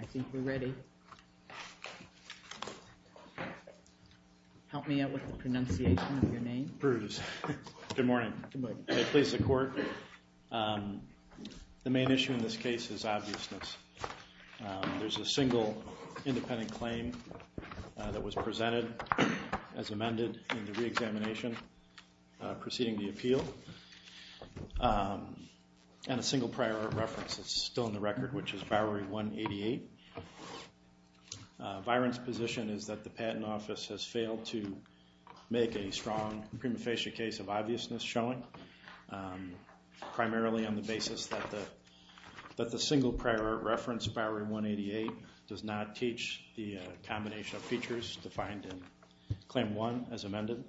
I think we're ready. Good morning, I place the court. The main issue in this case is obviousness. There's a single independent claim that was presented as amended in the re-examination preceding the appeal and a single prior reference that's still in the record which is Bowery 188. Virun's position is that the Patent Office has failed to make a strong prima facie case of obviousness showing primarily on the basis that the single prior reference Bowery 188 does not teach the combination of features defined in Claim 1 as amended.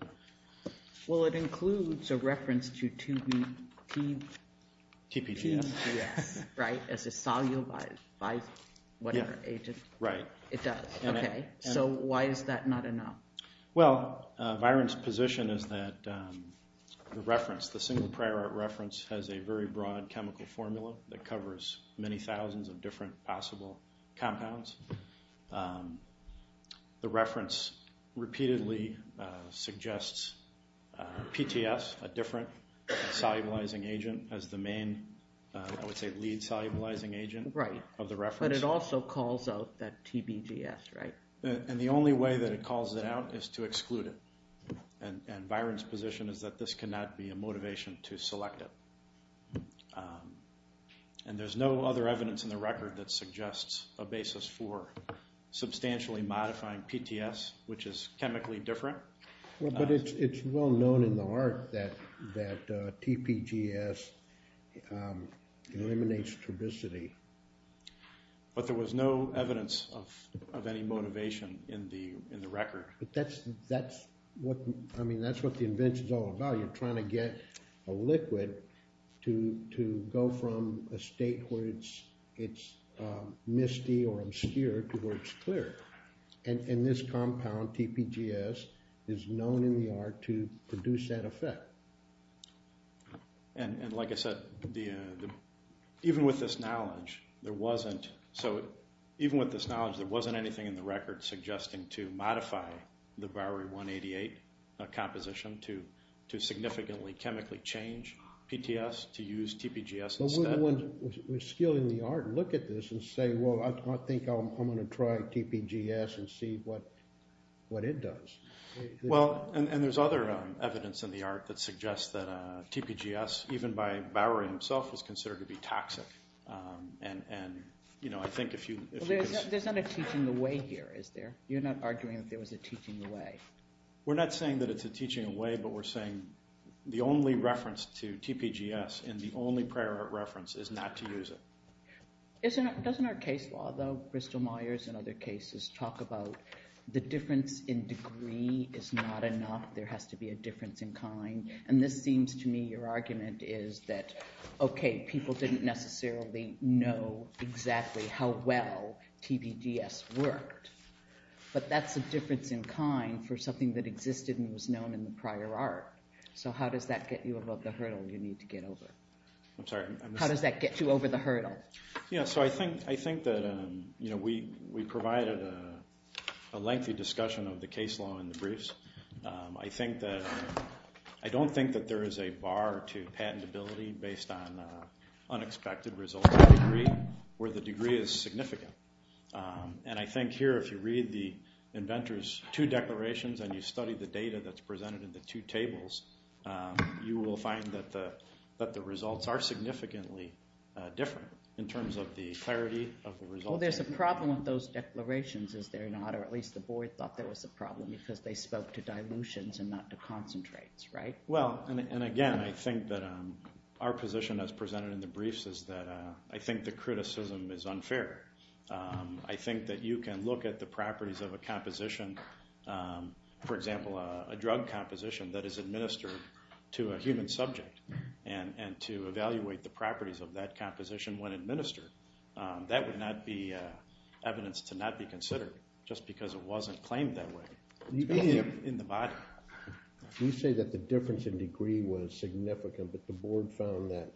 Well, it includes a reference to TPDS, right, as a solubilized, whatever, agent. Right. It does. Okay. So why is that not enough? Well, Virun's position is that the reference, the single prior reference has a very broad chemical formula that covers many thousands of different possible compounds. The reference repeatedly suggests PTS, a different solubilizing agent, as the main, I would say, lead solubilizing agent of the reference. But it also calls out that TPDS, right? And the only way that it calls it out is to exclude it. And Virun's position is that this cannot be a motivation to select it. And there's no other evidence in the record that suggests a basis for substantially modifying PTS, which is chemically different. Well, but it's well known in the art that TPDS eliminates turbicity. But there was no evidence of any motivation in the record. But that's what, I mean, that's what the invention's all about. You're trying to get a liquid to go from a state where it's misty or obscure to where it's clear. And this compound, TPDS, is known in the art to produce that effect. And like I said, even with this knowledge, there wasn't, so even with this knowledge, there wasn't anything in the record suggesting to modify the Bowery 188 composition to significantly chemically change PTS, to use TPDS instead. But we're the ones with skill in the art who look at this and say, well, I think I'm going to try TPDS and see what it does. Well, and there's other evidence in the art that suggests that TPDS, even by Bowery himself, was considered to be toxic. And I think if you could... Well, there's not a teaching away here, is there? You're not arguing that there was a teaching away? We're not saying that it's a teaching away, but we're saying the only reference to TPDS and the only prior art reference is not to use it. Doesn't our case law, though, Bristol Myers and other cases, talk about the difference in degree is not enough, there has to be a difference in kind? And this seems to me your argument is that, okay, people didn't necessarily know exactly how well TPDS worked, but that's a difference in kind for something that existed and was known in the prior art. So how does that get you above the hurdle you need to get over? I'm sorry? How does that get you over the hurdle? Yeah, so I think that we provided a lengthy discussion of the case law in the briefs. I think that... I don't think that there is a bar to patentability based on unexpected results degree where the degree is significant. And I think here, if you read the inventor's two declarations and you study the data that's presented in the two tables, you will find that the results are significantly different in terms of the clarity of the results. Well, there's a problem with those declarations, is there not? Or at least the board thought there was a problem because they spoke to dilutions and not to concentrates, right? Well, and again, I think that our position as presented in the briefs is that I think the criticism is unfair. I think that you can look at the properties of a composition, for example, a drug composition that is administered to a human subject and to evaluate the properties of that composition when administered. That would not be evidence to not be considered just because it wasn't claimed that way in the body. You say that the difference in degree was significant, but the board found that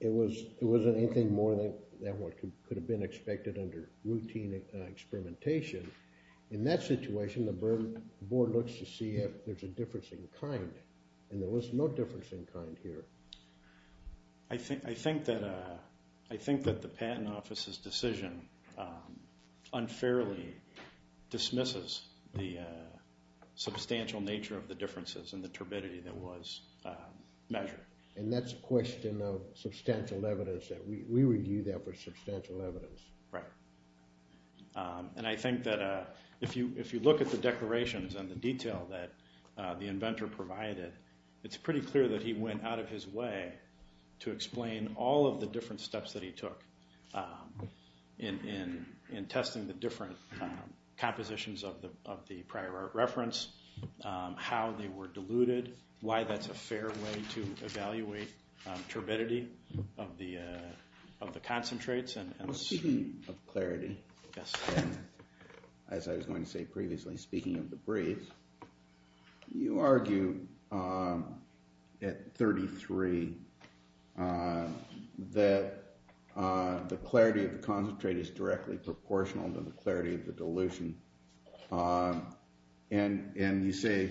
it wasn't anything more than what could have been expected under routine experimentation. In that situation, the board looks to see if there's a difference in kind, and there was no difference in kind here. I think that the patent office's decision unfairly dismisses the substantial nature of the differences in the turbidity that was measured. And that's a question of substantial evidence. We review that for substantial evidence. Right. And I think that if you look at the declarations and the detail that the inventor provided, it's pretty clear that he went out of his way to explain all of the different steps that he took in testing the different compositions of the prior art reference, how they were diluted, why that's a fair way to evaluate turbidity of the concentrates. Speaking of clarity, as I was going to say previously, speaking of the briefs, you argue at 33 that the clarity of the concentrate is directly proportional to the clarity of the dilution. And you say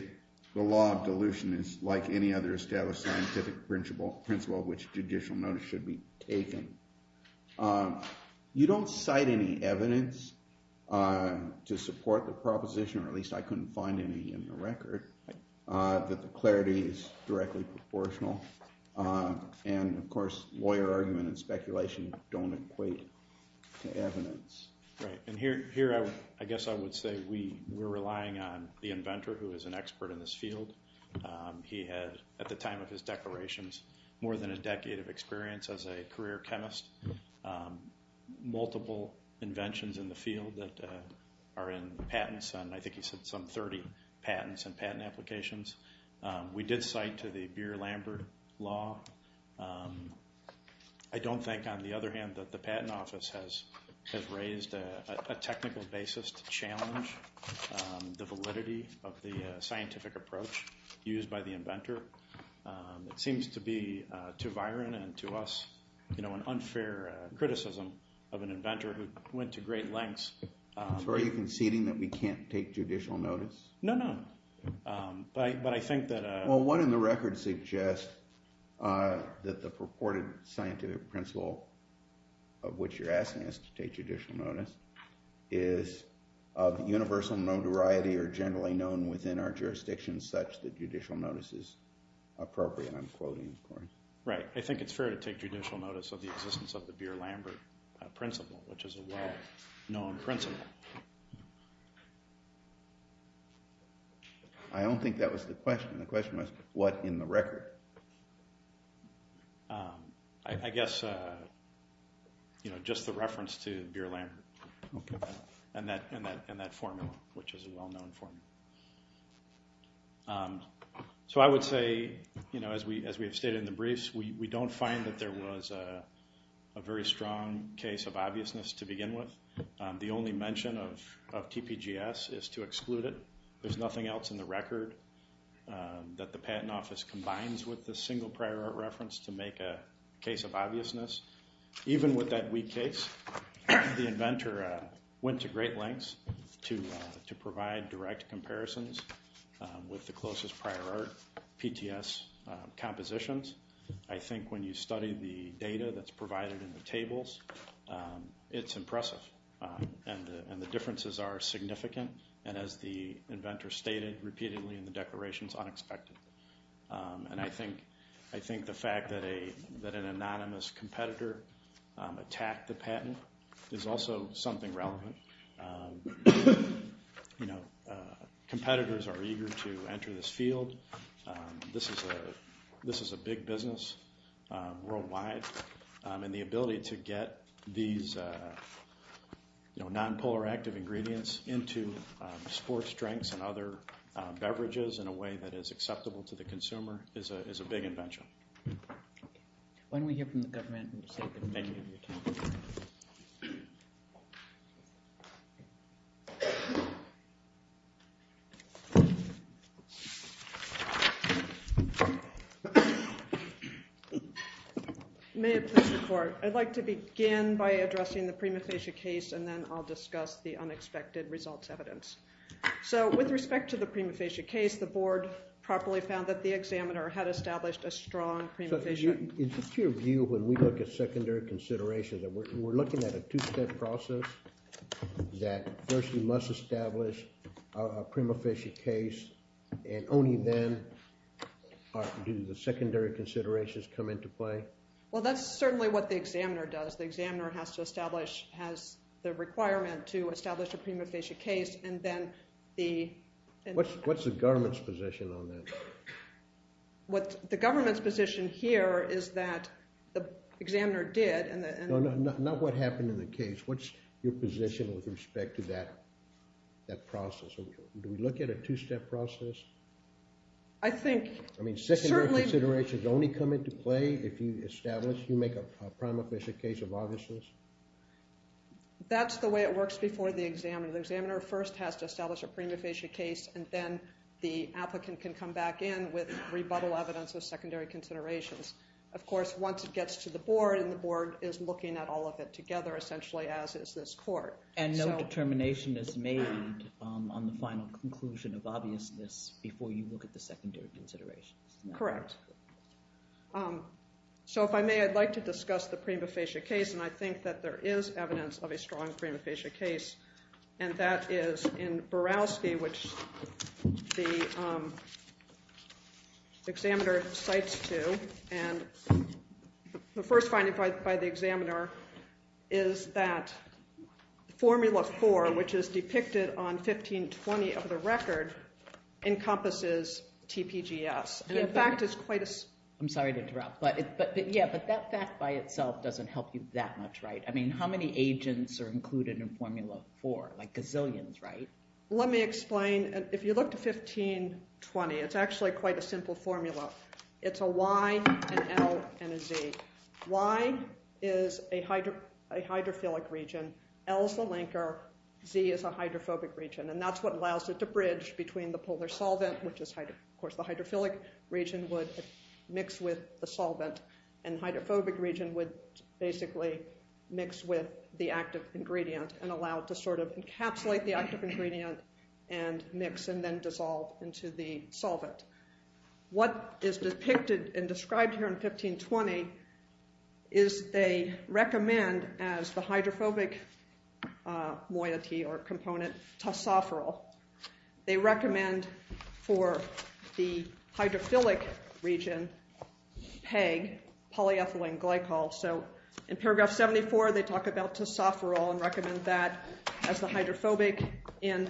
the law of dilution is like any other established scientific principle of which judicial notice should be taken. You don't cite any evidence to support the proposition, or at least I couldn't find any in the record, that the clarity is directly proportional. And, of course, lawyer argument and speculation don't equate to evidence. Right. And here, I guess I would say we're relying on the inventor, who is an expert in this field. He had, at the time of his declarations, more than a decade of experience as a career chemist, multiple inventions in the field that are in patents, and I think he said some 30 patents and patent applications. We did cite to the Beer-Lambert Law. I don't think, on the other hand, that the Patent Office has raised a technical basis to challenge the validity of the scientific approach used by the inventor. It seems to be, to Viren and to us, an unfair criticism of an inventor who went to great lengths. So are you conceding that we can't take judicial notice? No, no. But I think that... Well, what in the record suggests that the purported scientific principle of which you're asking us to take judicial notice is of universal notoriety or generally known within our jurisdictions such that judicial notice is appropriate? I'm quoting, of course. Right. I think it's fair to take judicial notice of the existence of the Beer-Lambert principle, which is a well-known principle. I don't think that was the question. The question was, what in the record? I guess just the reference to Beer-Lambert and that formula, which is a well-known formula. So I would say, as we have stated in the briefs, we don't find that there was a very strong case of obviousness to begin with. The only mention of TPGS is to exclude it. There's nothing else in the record that the Patent Office combines with the single prior reference to make a case of obviousness. Even with that weak case, the inventor went to great lengths to provide direct comparisons with the closest prior art, PTS compositions. I think when you study the data that's provided in the tables, it's impressive. And the differences are significant. And as the inventor stated repeatedly in the declaration, it's unexpected. And I think the fact that an anonymous competitor attacked the patent is also something relevant. Competitors are eager to enter this field. This is a big business worldwide. And the ability to get these non-polar active ingredients into sports drinks and other beverages in a way that is acceptable to the consumer is a big invention. Why don't we hear from the government? May it please the court. I'd like to begin by addressing the prima facie case and then I'll discuss the unexpected results evidence. So with respect to the prima facie case, the board properly found that the examiner had established a strong prima facie. Is this your view when we look at secondary considerations? We're looking at a two-step process that first you must establish a prima facie case and only then do the secondary considerations come into play? Well, that's certainly what the examiner does. The examiner has to establish, has the requirement to establish a prima facie case and then the What's the government's position on that? What the government's position here is that the examiner did and No, no, not what happened in the case. What's your position with respect to that process? Do we look at a two-step process? I think I mean secondary considerations only come into play if you establish, if you make a prima facie case of obviousness? That's the way it works before the examiner. The examiner first has to establish a prima facie case and then the applicant can come back in with rebuttal evidence of secondary considerations. Of course, once it gets to the board and the board is looking at all of it together essentially as is this court. And no determination is made on the final conclusion of obviousness before you look at the secondary considerations. Correct. So if I may, I'd like to discuss the prima facie case and I think that there is evidence of a strong prima facie case. And that is in Borowski, which the examiner cites two. And the first finding by the examiner is that Formula 4, which is depicted on 1520 of the record, encompasses TPGS. I'm sorry to interrupt, but yeah, but that fact by itself doesn't help you that much, right? I mean, how many agents are included in Formula 4? Like, gazillions, right? Let me explain. If you look to 1520, it's actually quite a simple formula. It's a Y, an L, and a Z. Y is a hydrophilic region. L is the linker. Z is a hydrophobic region. And that's what allows it to bridge between the polar solvent, which of course the hydrophilic region would mix with the solvent. And the hydrophobic region would basically mix with the active ingredient and allow it to sort of encapsulate the active ingredient and mix and then dissolve into the solvent. What is depicted and described here in 1520 is they recommend as the hydrophobic moiety or component, tosopherol. They recommend for the hydrophilic region, PEG, polyethylene glycol. So in paragraph 74, they talk about tosopherol and recommend that as the hydrophobic. In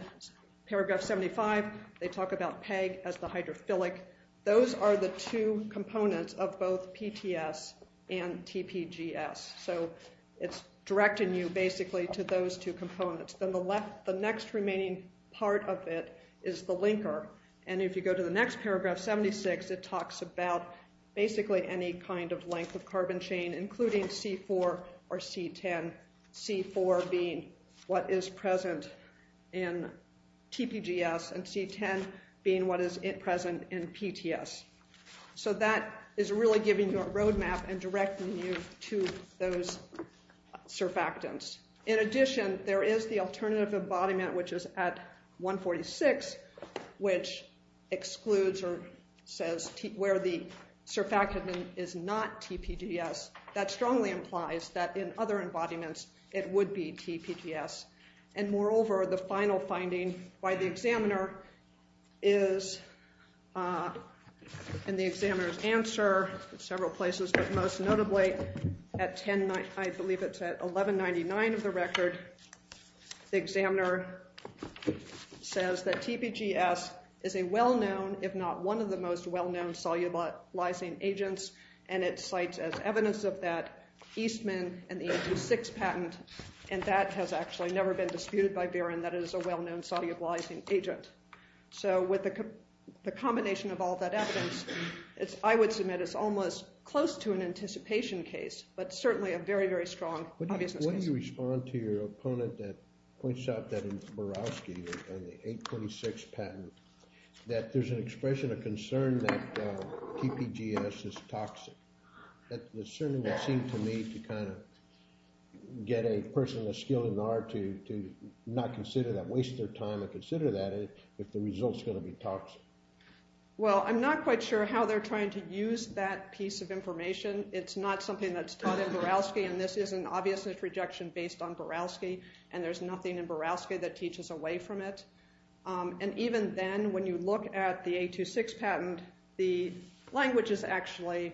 paragraph 75, they talk about PEG as the hydrophilic. Those are the two components of both PTS and TPGS. So it's directing you basically to those two components. Then the next remaining part of it is the linker. And if you go to the next paragraph, 76, it talks about basically any kind of length of carbon chain, including C4 or C10, C4 being what is present in TPGS and C10 being what is present in PTS. So that is really giving you a roadmap and directing you to those surfactants. In addition, there is the alternative embodiment, which is at 146, which excludes or says where the surfactant is not TPGS. That strongly implies that in other embodiments, it would be TPGS. And moreover, the final finding by the examiner is in the examiner's answer in several places, but most notably at 10, I believe it's at 1199 of the record, the examiner says that TPGS is a well-known, if not one of the most well-known solubilizing agents. And it cites as evidence of that Eastman and the AP6 patent. And that has actually never been disputed by VIRIN, that it is a well-known solubilizing agent. So with the combination of all that evidence, I would submit it's almost close to an anticipation case, but certainly a very, very strong obviousness case. When you respond to your opponent that points out that in Borowski and the AP6 patent, that there's an expression of concern that TPGS is toxic, that certainly would seem to me to kind of get a person a skill in R to not consider that, waste their time to consider that if the result's going to be toxic. Well, I'm not quite sure how they're trying to use that piece of information. It's not something that's taught in Borowski, and this is an obviousness rejection based on Borowski, and there's nothing in Borowski that teaches away from it. And even then, when you look at the AP6 patent, the language is actually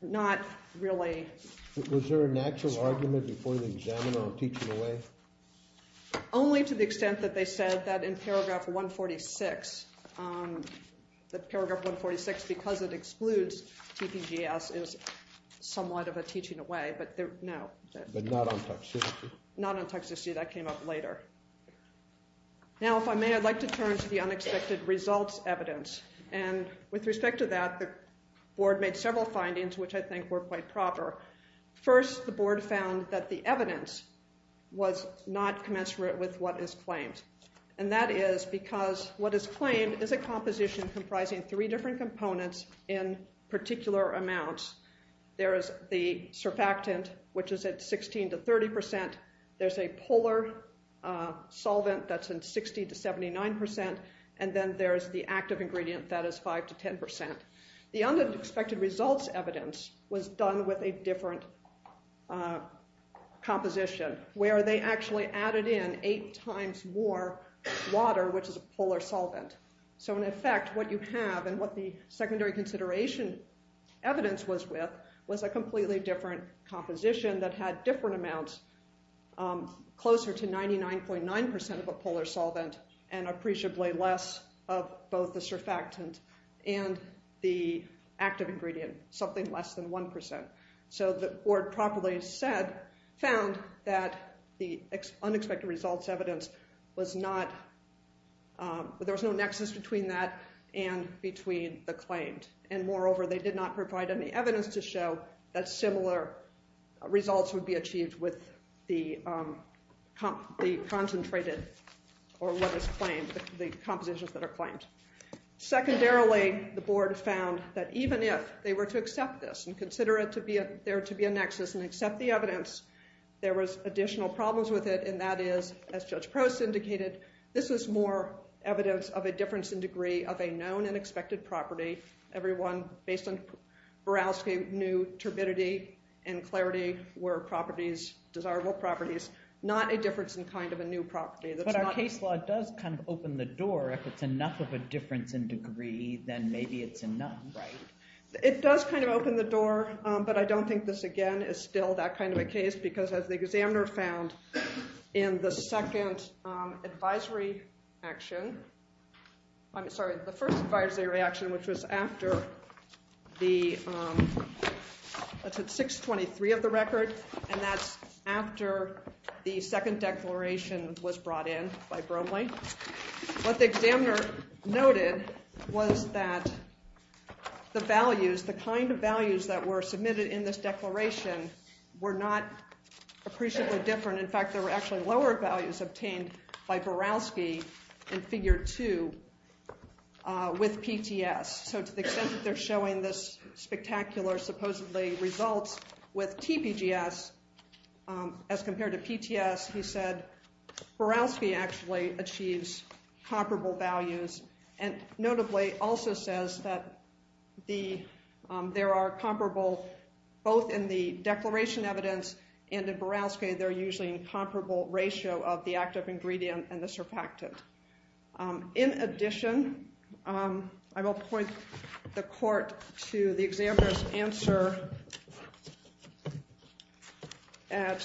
not really strong. Was there some argument before the examiner on teaching away? Only to the extent that they said that in paragraph 146, that paragraph 146, because it excludes TPGS, is somewhat of a teaching away, but no. But not on toxicity? Not on toxicity. That came up later. Now, if I may, I'd like to turn to the unexpected results evidence. And with respect to that, the board made several findings which I think were quite proper. First, the board found that the evidence was not commensurate with what is claimed. And that is because what is claimed is a composition comprising three different components in particular amounts. There is the surfactant, which is at 16 to 30 percent. There's a polar solvent that's in 60 to 79 percent. And then there's the active ingredient that is 5 to 10 percent. The unexpected results evidence was done with a different composition, where they actually added in eight times more water, which is a polar solvent. So in effect, what you have and what the secondary consideration evidence was with was a completely different composition that had different amounts, closer to 99.9 percent of a polar solvent and appreciably less of both the surfactant and the active ingredient, something less than 1 percent. So the board properly said, found that the unexpected results evidence was not, there was no nexus between that and between the claimed. And moreover, they did not provide any evidence to show that similar results would be achieved with the concentrated or what is claimed, the compositions that are claimed. Secondarily, the board found that even if they were to accept this and consider it to be, there to be a nexus and accept the evidence, there was additional problems with it, and that is, as Judge Prost indicated, this is more evidence of a difference in degree of a known and expected property. Everyone based on Borowski knew turbidity and clarity were properties, desirable properties, not a difference in kind of a new property. But our case law does kind of open the door. If it's enough of a difference in degree, then maybe it's enough. It does kind of open the door, but I don't think this, again, is still that kind of a case because as the examiner found in the second advisory action, I'm sorry, the first advisory action, which was after the 623 of the record, and that's after the second declaration was brought in by Bromley. What the examiner noted was that the values, the kind of values that were submitted in this declaration were not appreciably different. In fact, there were actually lower values obtained by Borowski in Figure 2 with PTS. So to the extent that they're showing this spectacular supposedly results with TPGS as compared to PTS, he said Borowski actually achieves comparable values and notably also says that there are comparable, both in the declaration evidence and in Borowski, they're usually in comparable ratio of the active ingredient and the surfactant. In addition, I will point the court to the examiner's answer at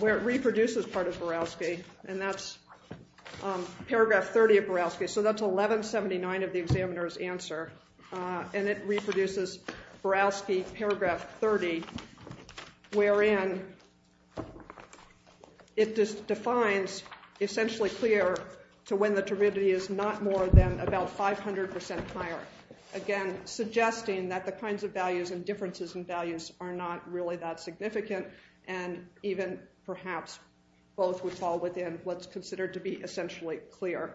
where it reproduces part of Borowski, and that's paragraph 30 of Borowski, so that's 1179 of the examiner's answer, and it reproduces Borowski paragraph 30, wherein it defines essentially clear to when the turbidity is not more than about 500% higher. Again, suggesting that the kinds of values and differences in values are not really that significant and even perhaps both would fall within what's considered to be essentially clear.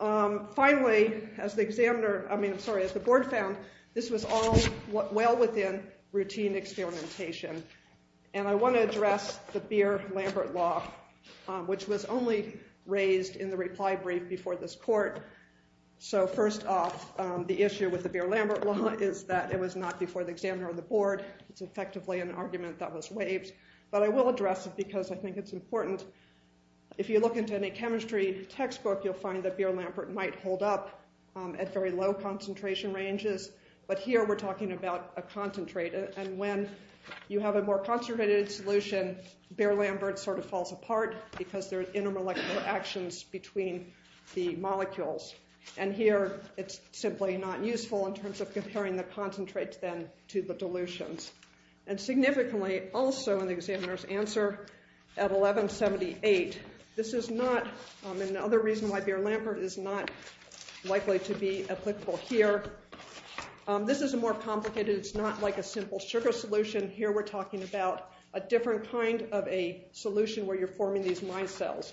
Finally, as the board found, this was all well within routine experimentation, and I want to address the Beer-Lambert Law, which was only raised in the reply brief before this court. So first off, the issue with the Beer-Lambert Law is that it was not before the examiner or the board. It's effectively an argument that was waived, but I will address it because I think it's important. If you look into any chemistry textbook, you'll find that Beer-Lambert might hold up at very low concentration ranges, but here we're talking about a concentrate, and when you have a more concentrated solution, Beer-Lambert sort of falls apart because there are intermolecular actions between the molecules, and here it's simply not useful in terms of comparing the concentrates then to the dilutions. And significantly also in the examiner's answer at 1178, this is not another reason why Beer-Lambert is not likely to be applicable here. This is more complicated. It's not like a simple sugar solution. Here we're talking about a different kind of a solution where you're forming these micelles.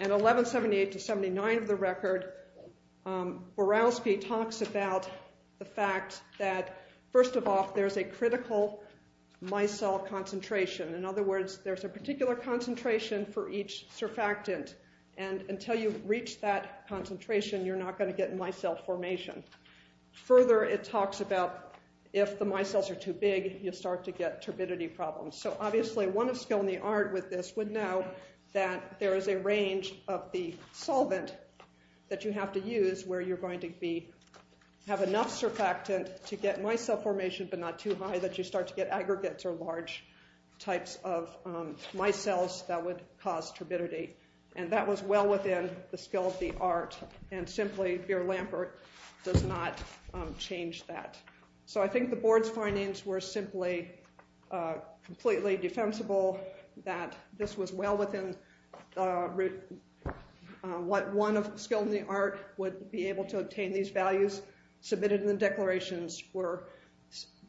And 1178 to 79 of the record, Borowski talks about the fact that first of all, there's a critical micelle concentration. In other words, there's a particular concentration for each surfactant, and until you reach that concentration, you're not going to get micelle formation. Further, it talks about if the micelles are too big, you'll start to get turbidity problems. So obviously, one of skill in the art with this would know that there is a range of the solvent that you have to use where you're going to have enough surfactant to get micelle formation but not too high that you start to get aggregates or large types of micelles that would cause turbidity. And that was well within the skill of the art, and simply Beer-Lambert does not change that. So I think the board's findings were simply completely defensible, that this was well within what one of skill in the art would be able to obtain. These values submitted in the declarations were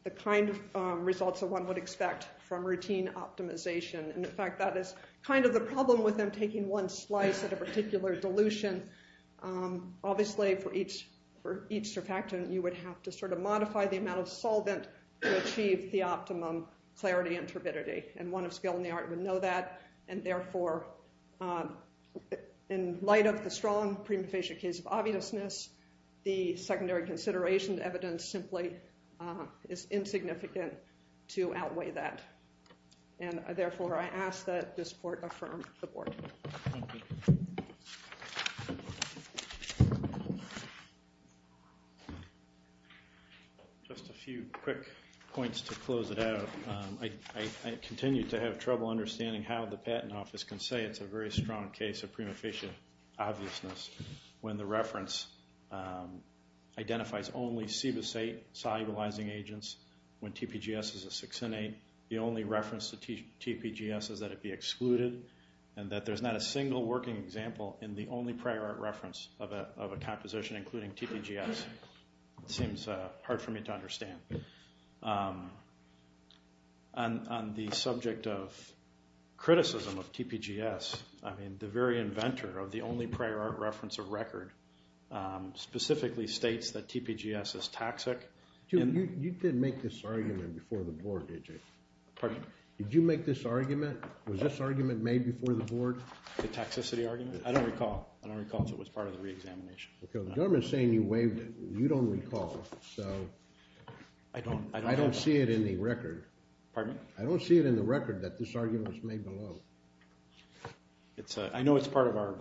the kind of results that one would expect from routine optimization. And in fact, that is kind of the problem with them taking one slice at a particular dilution. Obviously, for each surfactant, you would have to modify the amount of solvent to achieve the optimum clarity and turbidity, and one of skill in the art would know that. And therefore, in light of the strong prima facie case of obviousness, the secondary consideration evidence simply is insignificant to outweigh that. And therefore, I ask that this court affirm the board. Thank you. Just a few quick points to close it out. I continue to have trouble understanding how the patent office can say it's a very strong case of prima facie obviousness when the reference identifies only CBIS-8 solubilizing agents when TPGS is a 6N8. The only reference to TPGS is that it be excluded, and that there's not a single working example in the only prior art reference of a composition including TPGS. It seems hard for me to understand. On the subject of criticism of TPGS, I mean, the very inventor of the only prior art reference of record specifically states that TPGS is toxic. You did make this argument before the board, did you? Pardon? Did you make this argument? Was this argument made before the board? The toxicity argument? I don't recall. I don't recall, so it was part of the reexamination. The government is saying you waived it. You don't recall, so I don't see it in the record. Pardon? I don't see it in the record that this argument was made below. I know it's part of our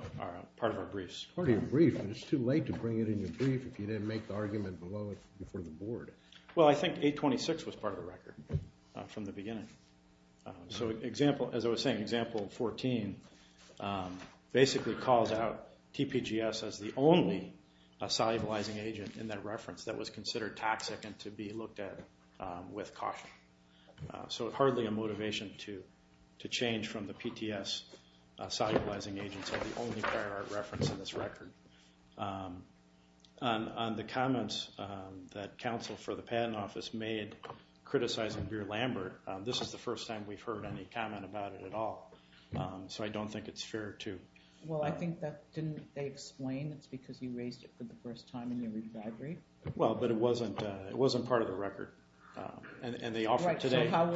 briefs. It's part of your brief, but it's too late to bring it in your brief if you didn't make the argument below it before the board. Well, I think 826 was part of the record from the beginning. So, as I was saying, example 14 basically calls out TPGS as the only solubilizing agent in that reference that was considered toxic and to be looked at with caution. So, it's hardly a motivation to change from the PTS solubilizing agents as the only prior art reference in this record. On the comments that counsel for the patent office made criticizing Beer-Lambert, this is the first time we've heard any comment about it at all. So, I don't think it's fair to... Well, I think that didn't they explain it's because you raised it for the first time in your review? Well, but it wasn't part of the record. Right, so how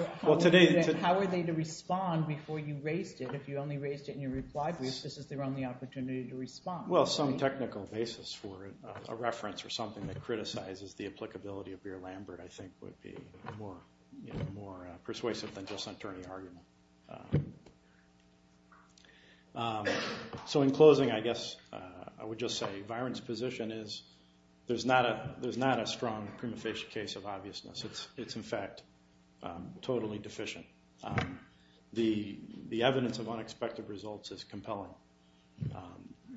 were they to respond before you raised it? If you only raised it in your reply brief, this is their only opportunity to respond. Well, some technical basis for a reference or something that criticizes the applicability of Beer-Lambert I think would be more persuasive than just an attorney argument. So, in closing I guess I would just say Viren's position is there's not a strong prima facie case of obviousness. It's in fact totally deficient. The evidence of unexpected results is compelling.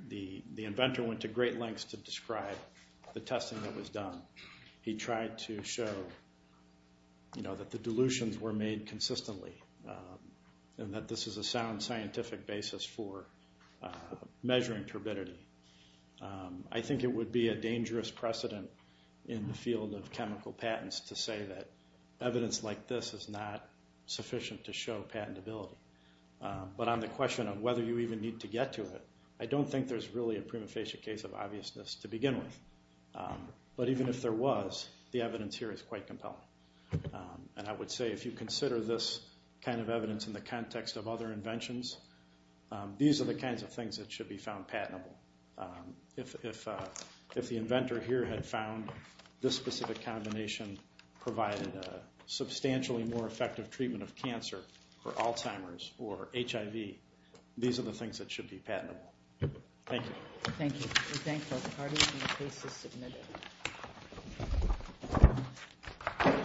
The inventor went to great lengths to describe the testing that was done. He tried to show that the dilutions were made consistently and that this is a sound scientific basis for measuring turbidity. I think it would be a dangerous precedent in the field of chemical patents to say that evidence like this is not sufficient to show patentability. But on the question of whether you even need to get to it, I don't think there's really a prima facie case of obviousness to begin with. But even if there was, the evidence here is quite compelling. And I would say if you consider this kind of evidence in the context of other inventions, these are the kinds of things that should be found patentable. If the inventor here had found this specific combination provided a substantially more effective treatment of cancer for Alzheimer's or HIV, these are the things that should be patentable. Thank you. Thank you. We thank both parties and the case is submitted.